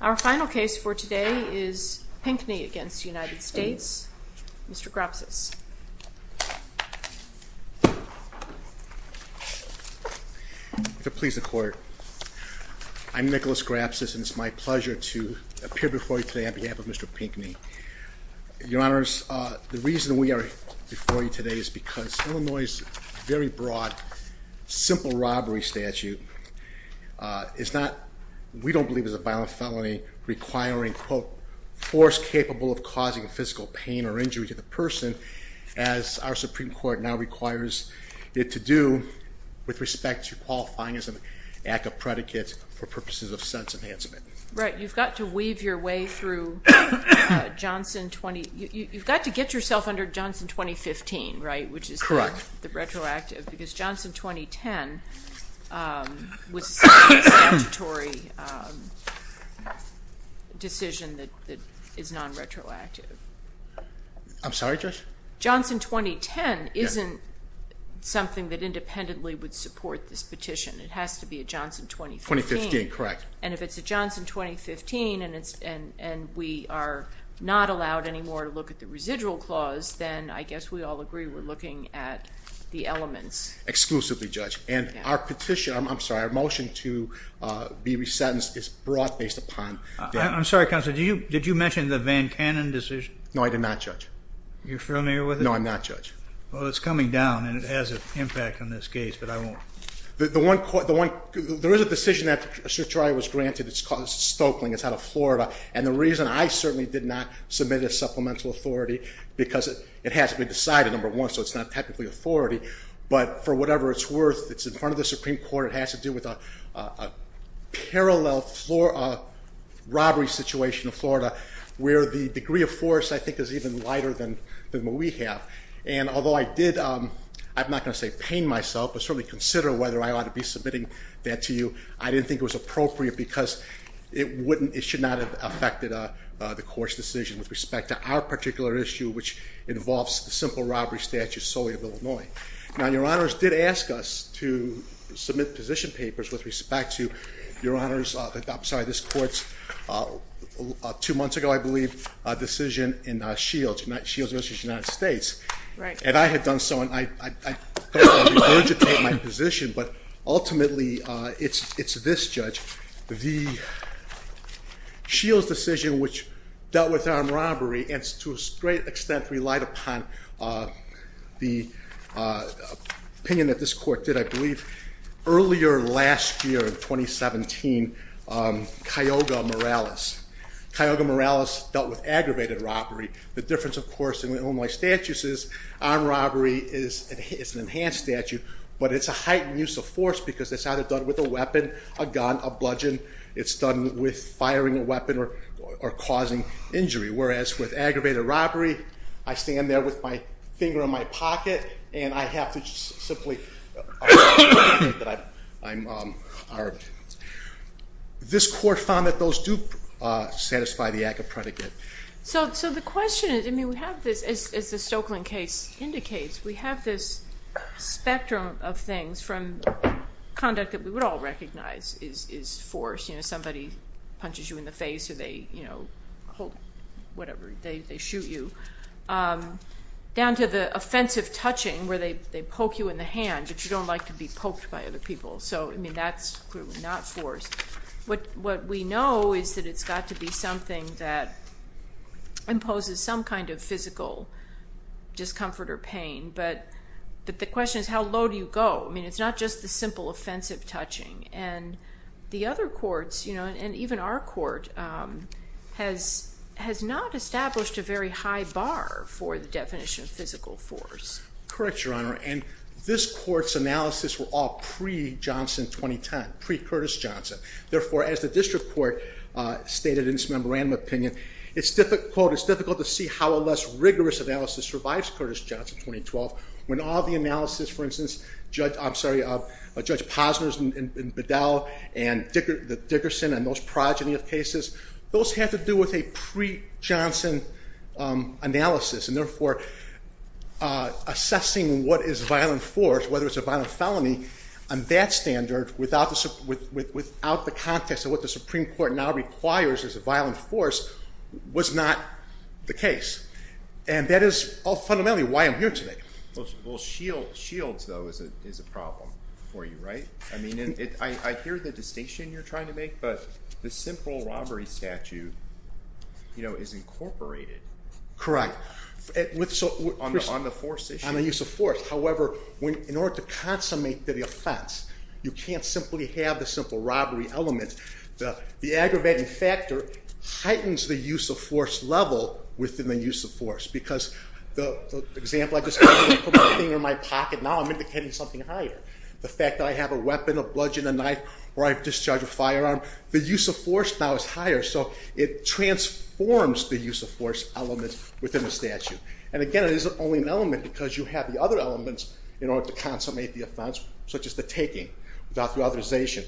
Our final case for today is Pinkney v. United States. Mr. Grapsis. Please the court. I'm Nicholas Grapsis and it's my pleasure to appear before you today on behalf of Mr. Pinkney. Your honors, the reason we are before you today is because Illinois' very broad, simple robbery statute is not, we don't believe is a violent felony requiring, quote, force capable of causing physical pain or injury to the person as our Supreme Court now requires it to do with respect to qualifying as an act of predicate for purposes of sense enhancement. Right, you've got to weave your way through Johnson 20, you've got to get yourself under Johnson 2015, right? Correct. Which is the retroactive because Johnson 2010 was a statutory decision that is non-retroactive. Johnson 2010 isn't something that independently would support this petition, it has to be a Johnson 2015. 2015, correct. And if it's a Johnson 2015 and we are not allowed anymore to look at the residual clause, then I guess we all agree we're looking at the elements. Exclusively, Judge. And our petition, I'm sorry, our motion to be resentenced is brought based upon that. I'm sorry, Counselor, did you mention the Van Cannon decision? No, I did not, Judge. You're familiar with it? No, I'm not, Judge. Well, it's coming down and it has an impact on this case, but I won't. There is a decision that was granted, it's called Stokeling, it's out of Florida, and the reason I certainly did not submit a supplemental authority, because it has to be decided, number one, so it's not technically authority, but for whatever it's worth, it's in front of the Supreme Court, it has to do with a parallel robbery situation in Florida, where the degree of force I think is even lighter than what we have. And although I did, I'm not going to say pain myself, but certainly consider whether I ought to be submitting that to you, I didn't think it was appropriate because it should not have affected the court's decision with respect to our particular issue, which involves the simple robbery statute solely of Illinois. Now, Your Honors did ask us to submit position papers with respect to, Your Honors, I'm sorry, this court's two months ago, I believe, decision in Shields versus United States. Right. And I had done so, and I don't want to regurgitate my position, but ultimately it's this, Judge. The Shields decision, which dealt with armed robbery, and to a great extent relied upon the opinion that this court did, I believe, earlier last year in 2017, Kyoga Morales. Kyoga Morales dealt with aggravated robbery. The difference, of course, in Illinois statutes is armed robbery is an enhanced statute, but it's a heightened use of force because it's either done with a weapon, a gun, a bludgeon. It's done with firing a weapon or causing injury. Whereas with aggravated robbery, I stand there with my finger in my pocket, and I have to simply- This court found that those do satisfy the act of predicate. So the question is, I mean, we have this, as the Stokeland case indicates, we have this spectrum of things from conduct that we would all recognize is force. You know, somebody punches you in the face, or they, you know, hold, whatever, they shoot you, down to the offensive touching where they poke you in the hand, but you don't like to be poked by other people. So, I mean, that's clearly not force. What we know is that it's got to be something that imposes some kind of physical discomfort or pain, but the question is, how low do you go? I mean, it's not just the simple offensive touching, and the other courts, you know, and even our court has not established a very high bar for the definition of physical force. Correct, Your Honor, and this court's analysis were all pre-Johnson 2010, pre-Curtis Johnson. Therefore, as the district court stated in its memorandum opinion, it's difficult to see how a less rigorous analysis survives Curtis Johnson 2012, when all the analysis, for instance, Judge Posner's and Bedell and Dickerson and those progeny of cases, those have to do with a pre-Johnson analysis. And therefore, assessing what is violent force, whether it's a violent felony, on that standard, without the context of what the Supreme Court now requires as a violent force, was not the case. And that is fundamentally why I'm here today. Well, shields, though, is a problem for you, right? I mean, I hear the distinction you're trying to make, but the simple robbery statute, you know, is incorporated. Correct. On the force issue. On the use of force. However, in order to consummate the offense, you can't simply have the simple robbery element. The aggravating factor heightens the use of force level within the use of force. Because the example I just gave you, I put my finger in my pocket, now I'm indicating something higher. The fact that I have a weapon, a bludgeon, a knife, or I've discharged a firearm, the use of force now is higher. So it transforms the use of force element within the statute. And again, it is only an element because you have the other elements in order to consummate the offense, such as the taking without the authorization.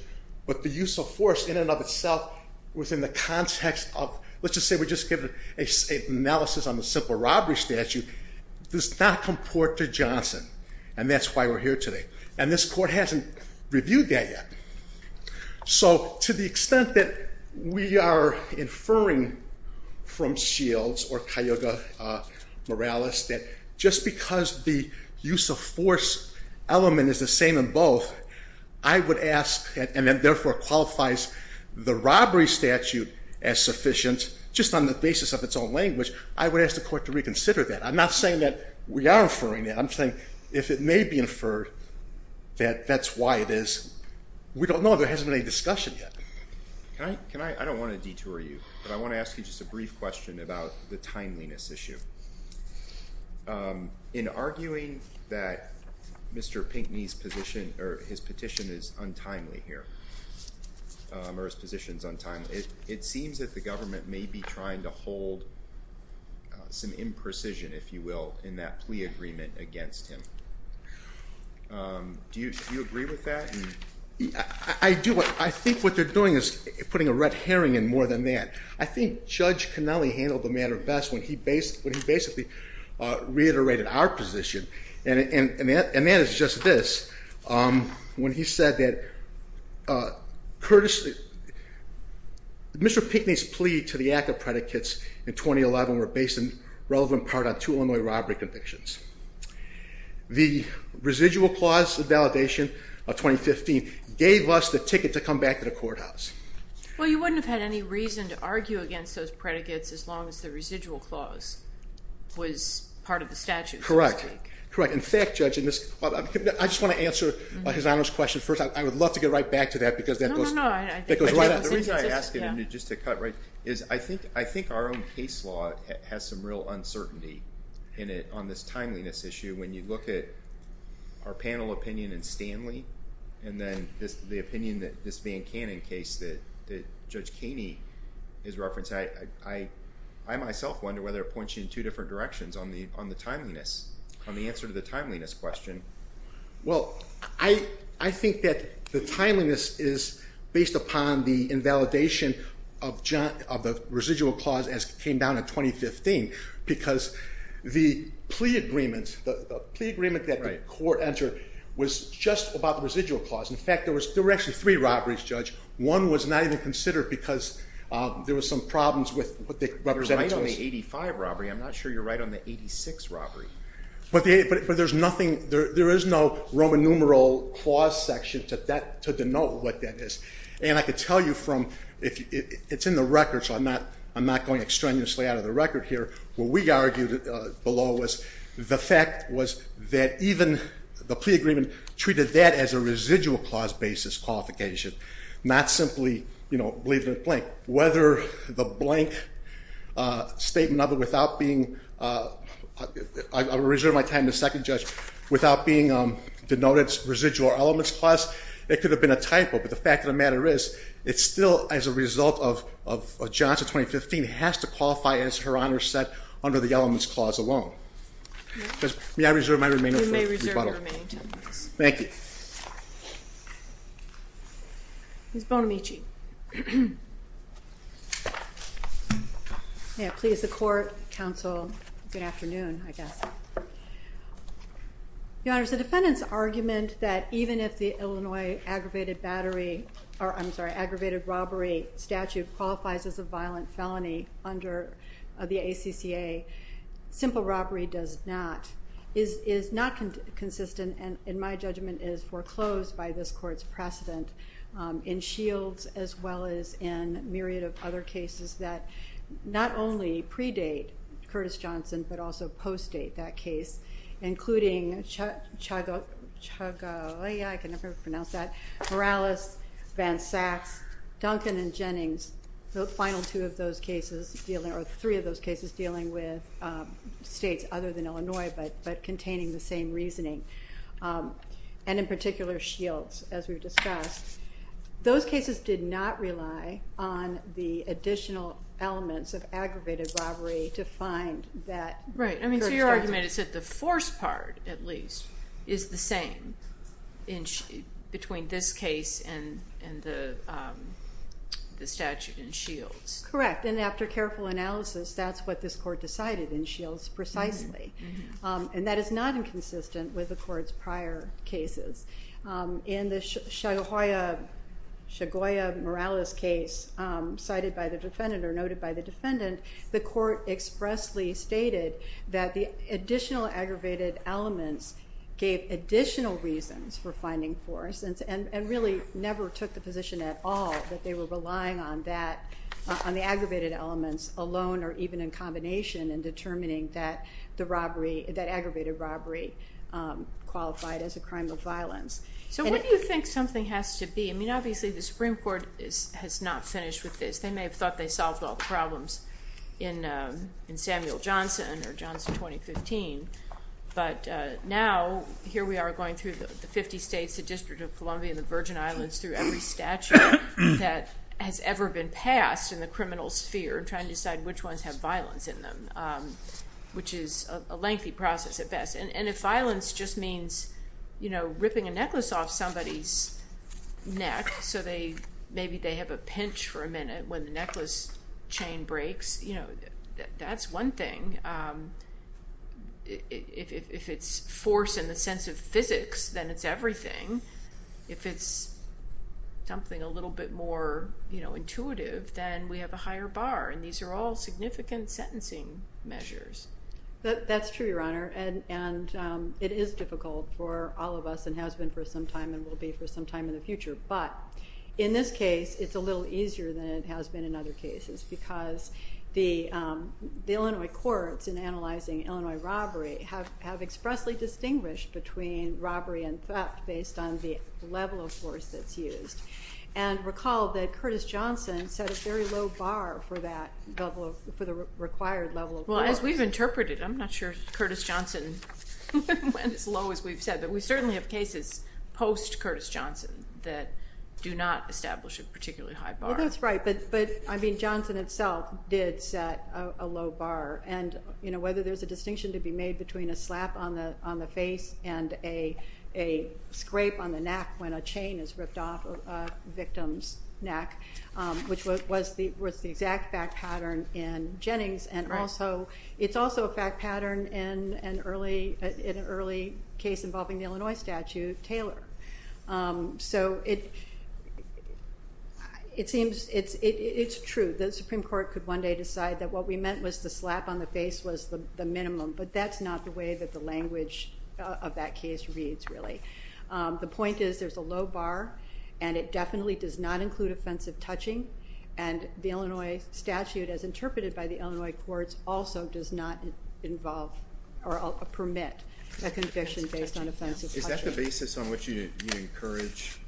But the use of force in and of itself within the context of, let's just say we just give an analysis on the simple robbery statute, does not comport to Johnson. And that's why we're here today. And this court hasn't reviewed that yet. So to the extent that we are inferring from Shields or Cayuga Morales that just because the use of force element is the same in both, I would ask, and then therefore qualifies the robbery statute as sufficient, just on the basis of its own language, I would ask the court to reconsider that. I'm not saying that we are inferring that. I'm saying if it may be inferred that that's why it is. We don't know. There hasn't been any discussion yet. I don't want to detour you. But I want to ask you just a brief question about the timeliness issue. In arguing that Mr. Pinckney's petition is untimely here, or his position is untimely, it seems that the government may be trying to hold some imprecision, if you will, in that plea agreement against him. Do you agree with that? I do. I think what they're doing is putting a red herring in more than that. I think Judge Connelly handled the matter best when he basically reiterated our position. And that is just this, when he said that Mr. Pinckney's plea to the act of predicates in 2011 were based in relevant part on two Illinois robbery convictions. The residual clause validation of 2015 gave us the ticket to come back to the courthouse. Well, you wouldn't have had any reason to argue against those predicates as long as the residual clause was part of the statute. Correct. In fact, Judge, I just want to answer His Honor's question first. I would love to get right back to that, because that goes right out. The reason I ask it, just to cut right, is I think our own case law has some real uncertainty on this timeliness issue. When you look at our panel opinion in Stanley, and then the opinion that this Van Cannon case that Judge Kaney is referencing, I myself wonder whether it points you in two different directions on the answer to the timeliness question. Well, I think that the timeliness is based upon the invalidation of the residual clause as it came down in 2015, because the plea agreement that the court entered was just about the residual clause. In fact, there were actually three robberies, Judge. One was not even considered because there were some problems with what they represented to us. You're right on the 85 robbery. I'm not sure you're right on the 86 robbery. But there's nothing, there is no Roman numeral clause section to denote what that is. And I could tell you from, it's in the record, so I'm not going extraneously out of the record here. What we argued below was the fact was that even the plea agreement treated that as a residual clause basis qualification, not simply, you know, leave it blank. Whether the blank statement of it without being, I reserve my time to the second judge, without being denoted as residual elements clause, it could have been a typo. But the fact of the matter is, it's still as a result of Johnson 2015, it has to qualify as Her Honor said under the elements clause alone. May I reserve my remainder for rebuttal? You may reserve your remaining 10 minutes. Thank you. Ms. Bonamici. May it please the court, counsel, good afternoon, I guess. Your Honor, the defendant's argument that even if the Illinois aggravated battery, I'm sorry, aggravated robbery statute qualifies as a violent felony under the ACCA, simple robbery does not, is not consistent and in my judgment is foreclosed by this court's precedent in Shields as well as in a myriad of other cases that not only predate Curtis Johnson but also post-date that case, including Chagallia, I can never pronounce that, Morales, Van Saks, Duncan and Jennings, the final two of those cases, or three of those cases, dealing with states other than Illinois but containing the same reasoning, and in particular Shields, as we've discussed. Those cases did not rely on the additional elements of aggravated robbery to find that Curtis Johnson. Right. So your argument is that the force part, at least, is the same between this case and the statute in Shields. Correct. And after careful analysis, that's what this court decided in Shields precisely. And that is not inconsistent with the court's prior cases. In the Chagallia-Morales case cited by the defendant or noted by the defendant, the court expressly stated that the additional aggravated elements gave additional reasons for finding force and really never took the position at all that they were relying on that, on the aggravated elements alone or even in combination in determining that aggravated robbery qualified as a crime of violence. So what do you think something has to be? I mean, obviously, the Supreme Court has not finished with this. They may have thought they solved all the problems in Samuel Johnson or Johnson 2015, but now here we are going through the 50 states, the District of Columbia, and the Virgin Islands through every statute that has ever been passed in the criminal sphere, trying to decide which ones have violence in them, which is a lengthy process at best. And if violence just means ripping a necklace off somebody's neck so maybe they have a pinch for a minute when the necklace chain breaks, that's one thing. If it's force in the sense of physics, then it's everything. If it's something a little bit more intuitive, then we have a higher bar, and these are all significant sentencing measures. That's true, Your Honor, and it is difficult for all of us and has been for some time and will be for some time in the future. But in this case, it's a little easier than it has been in other cases because the Illinois courts in analyzing Illinois robbery have expressly distinguished between robbery and theft based on the level of force that's used. And recall that Curtis Johnson set a very low bar for the required level of force. Well, as we've interpreted it, I'm not sure Curtis Johnson went as low as we've said, but we certainly have cases post-Curtis Johnson that do not establish a particularly high bar. That's right, but Johnson itself did set a low bar, and whether there's a distinction to be made between a slap on the face and a scrape on the neck when a chain is ripped off a victim's neck, which was the exact fact pattern in Jennings, and it's also a fact pattern in an early case involving the Illinois statute, Taylor. So it seems it's true. The Supreme Court could one day decide that what we meant was the slap on the face was the minimum, but that's not the way that the language of that case reads, really. The point is there's a low bar, and it definitely does not include offensive touching, and the Illinois statute, as interpreted by the Illinois courts, also does not permit a conviction based on offensive touching. Is that the basis on which you encourage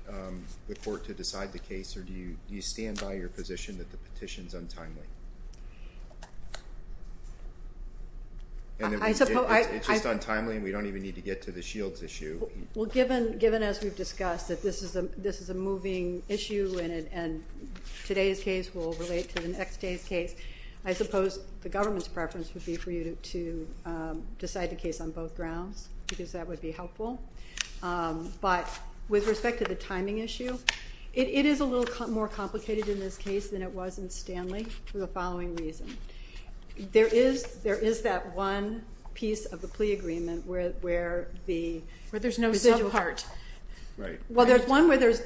the court to decide the case, or do you stand by your position that the petition is untimely? It's just untimely, and we don't even need to get to the Shields issue. Given, as we've discussed, that this is a moving issue and today's case will relate to the next day's case, I suppose the government's preference would be for you to decide the case on both grounds, because that would be helpful. But with respect to the timing issue, it is a little more complicated in this case than it was in Stanley for the following reason. There is that one piece of the plea agreement where the residual part. Where there's no subpart. Well, there is one where there's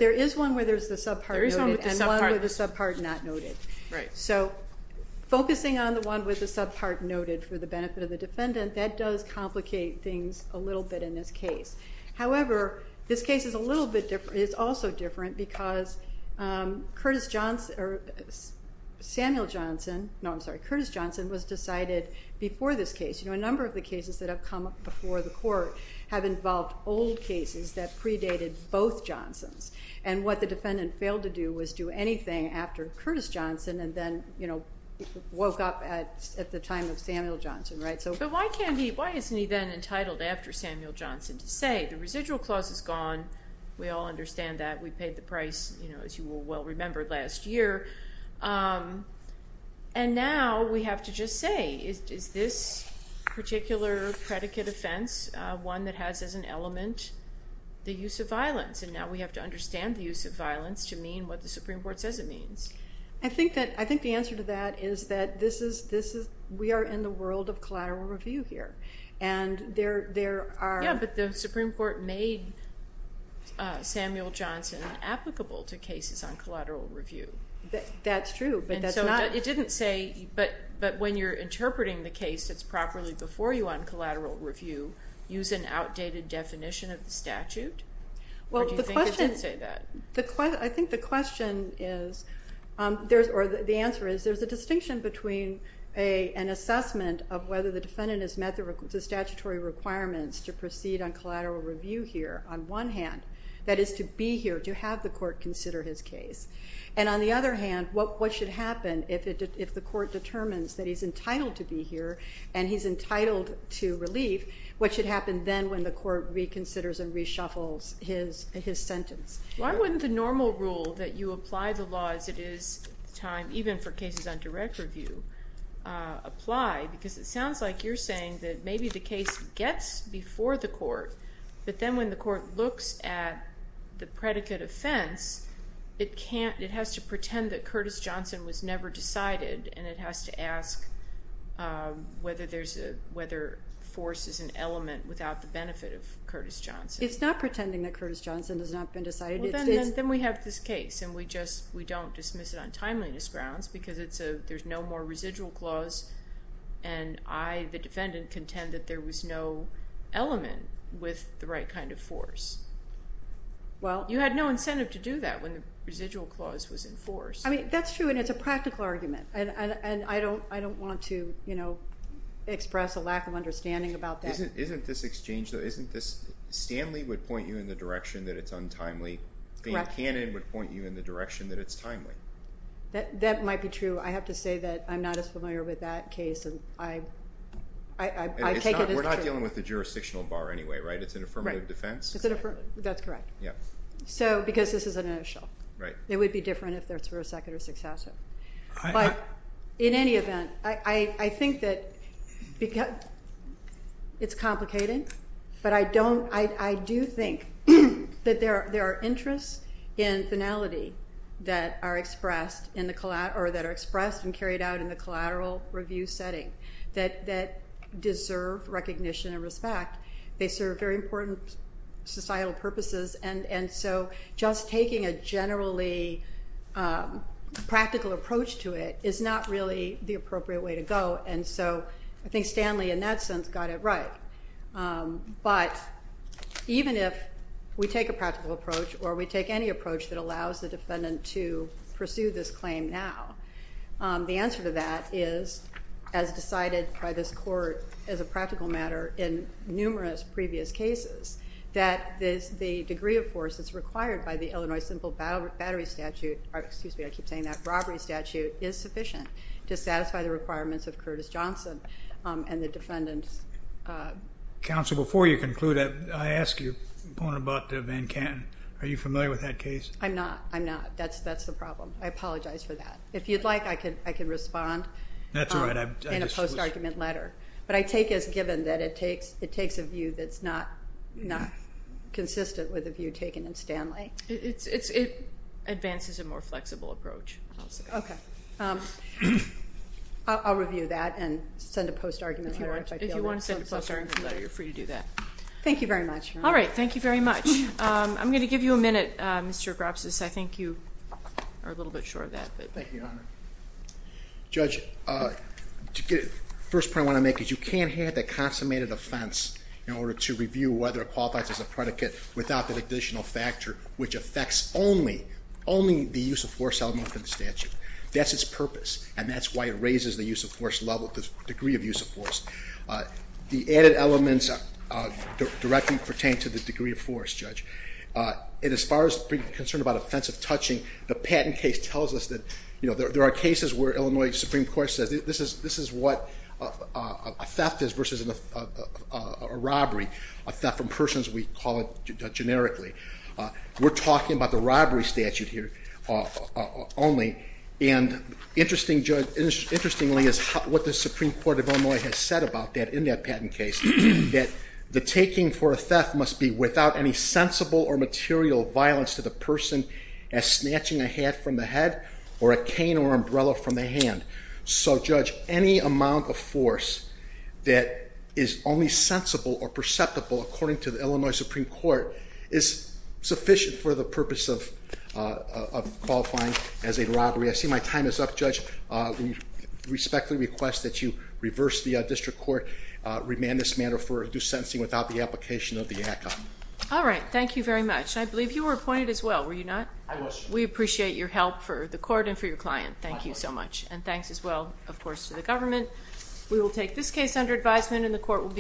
the subpart noted and one with the subpart not noted. So focusing on the one with the subpart noted for the benefit of the defendant, that does complicate things a little bit in this case. However, this case is a little bit different. It's also different because Curtis Johnson was decided before this case. A number of the cases that have come before the court have involved old cases that predated both Johnsons, and what the defendant failed to do was do anything after Curtis Johnson and then woke up at the time of Samuel Johnson. But why isn't he then entitled after Samuel Johnson to say, the residual clause is gone. We all understand that. We paid the price, as you will well remember, last year. And now we have to just say, is this particular predicate offense one that has as an element the use of violence? And now we have to understand the use of violence to mean what the Supreme Court says it means. I think the answer to that is that we are in the world of collateral review here. Yeah, but the Supreme Court made Samuel Johnson applicable to cases on collateral review. That's true. But when you're interpreting the case that's properly before you on collateral review, use an outdated definition of the statute? Or do you think it didn't say that? I think the question is, or the answer is, there's a distinction between an assessment of whether the defendant has met the statutory requirements to proceed on collateral review here, on one hand, that is to be here, to have the court consider his case. And on the other hand, what should happen if the court determines that he's entitled to be here and he's entitled to relief, what should happen then when the court reconsiders and reshuffles his sentence? Why wouldn't the normal rule that you apply the law as it is at the time, even for cases on direct review, apply? Because it sounds like you're saying that maybe the case gets before the court, but then when the court looks at the predicate offense, it has to pretend that Curtis Johnson was never decided and it has to ask whether force is an element without the benefit of Curtis Johnson. It's not pretending that Curtis Johnson has not been decided. Then we have this case and we don't dismiss it on timeliness grounds because there's no more residual clause and I, the defendant, contend that there was no element with the right kind of force. You had no incentive to do that when the residual clause was in force. That's true and it's a practical argument and I don't want to express a lack of understanding about that. Isn't this exchange though, isn't this, Stanley would point you in the direction that it's untimely. Correct. Dan Cannon would point you in the direction that it's timely. That might be true. I have to say that I'm not as familiar with that case and I take it as true. We're not dealing with the jurisdictional bar anyway, right? It's an affirmative defense. That's correct. Yeah. So because this is an initial. Right. It would be different if this were a second or successive. But in any event, I think that it's complicating, but I do think that there are interests in finality that are expressed and carried out in the collateral review setting that deserve recognition and respect. They serve very important societal purposes and so just taking a generally practical approach to it is not really the appropriate way to go and so I think Stanley in that sense got it right. But even if we take a practical approach or we take any approach that allows the defendant to pursue this claim now, the answer to that is as decided by this court as a practical matter in numerous previous cases, that the degree of force that's required by the Illinois simple battery statute, excuse me, I keep saying that, robbery statute is sufficient to satisfy the requirements of Curtis Johnson and the defendant's. Counsel, before you conclude, I ask you a point about Van Canton. Are you familiar with that case? I'm not. I'm not. That's the problem. I apologize for that. If you'd like, I can respond in a post-argument letter. But I take as given that it takes a view that's not consistent with the view taken in Stanley. It advances a more flexible approach. Okay. I'll review that and send a post-argument letter. If you want to send a post-argument letter, you're free to do that. Thank you very much. All right. Thank you very much. I'm going to give you a minute, Mr. Grapsis. I think you are a little bit short of that. Thank you, Your Honor. Judge, the first point I want to make is you can't have that consummated offense in order to review whether it qualifies as a predicate without that additional factor, which affects only the use of force element in the statute. That's its purpose, and that's why it raises the use of force level, the degree of use of force. The added elements directly pertain to the degree of force, Judge. And as far as being concerned about offensive touching, the patent case tells us that there are cases where Illinois Supreme Court says this is what a theft is versus a robbery, a theft from persons we call it generically. We're talking about the robbery statute here only, and interestingly is what the Supreme Court of Illinois has said about that in that patent case, that the taking for a theft must be without any touching a hat from the head or a cane or umbrella from the hand. So, Judge, any amount of force that is only sensible or perceptible, according to the Illinois Supreme Court, is sufficient for the purpose of qualifying as a robbery. I see my time is up, Judge. I respectfully request that you reverse the district court, remand this matter for due sentencing without the application of the ACCA. All right. Thank you very much. I believe you were appointed as well, were you not? I was. We appreciate your help for the court and for your client. Thank you so much. And thanks as well, of course, to the government.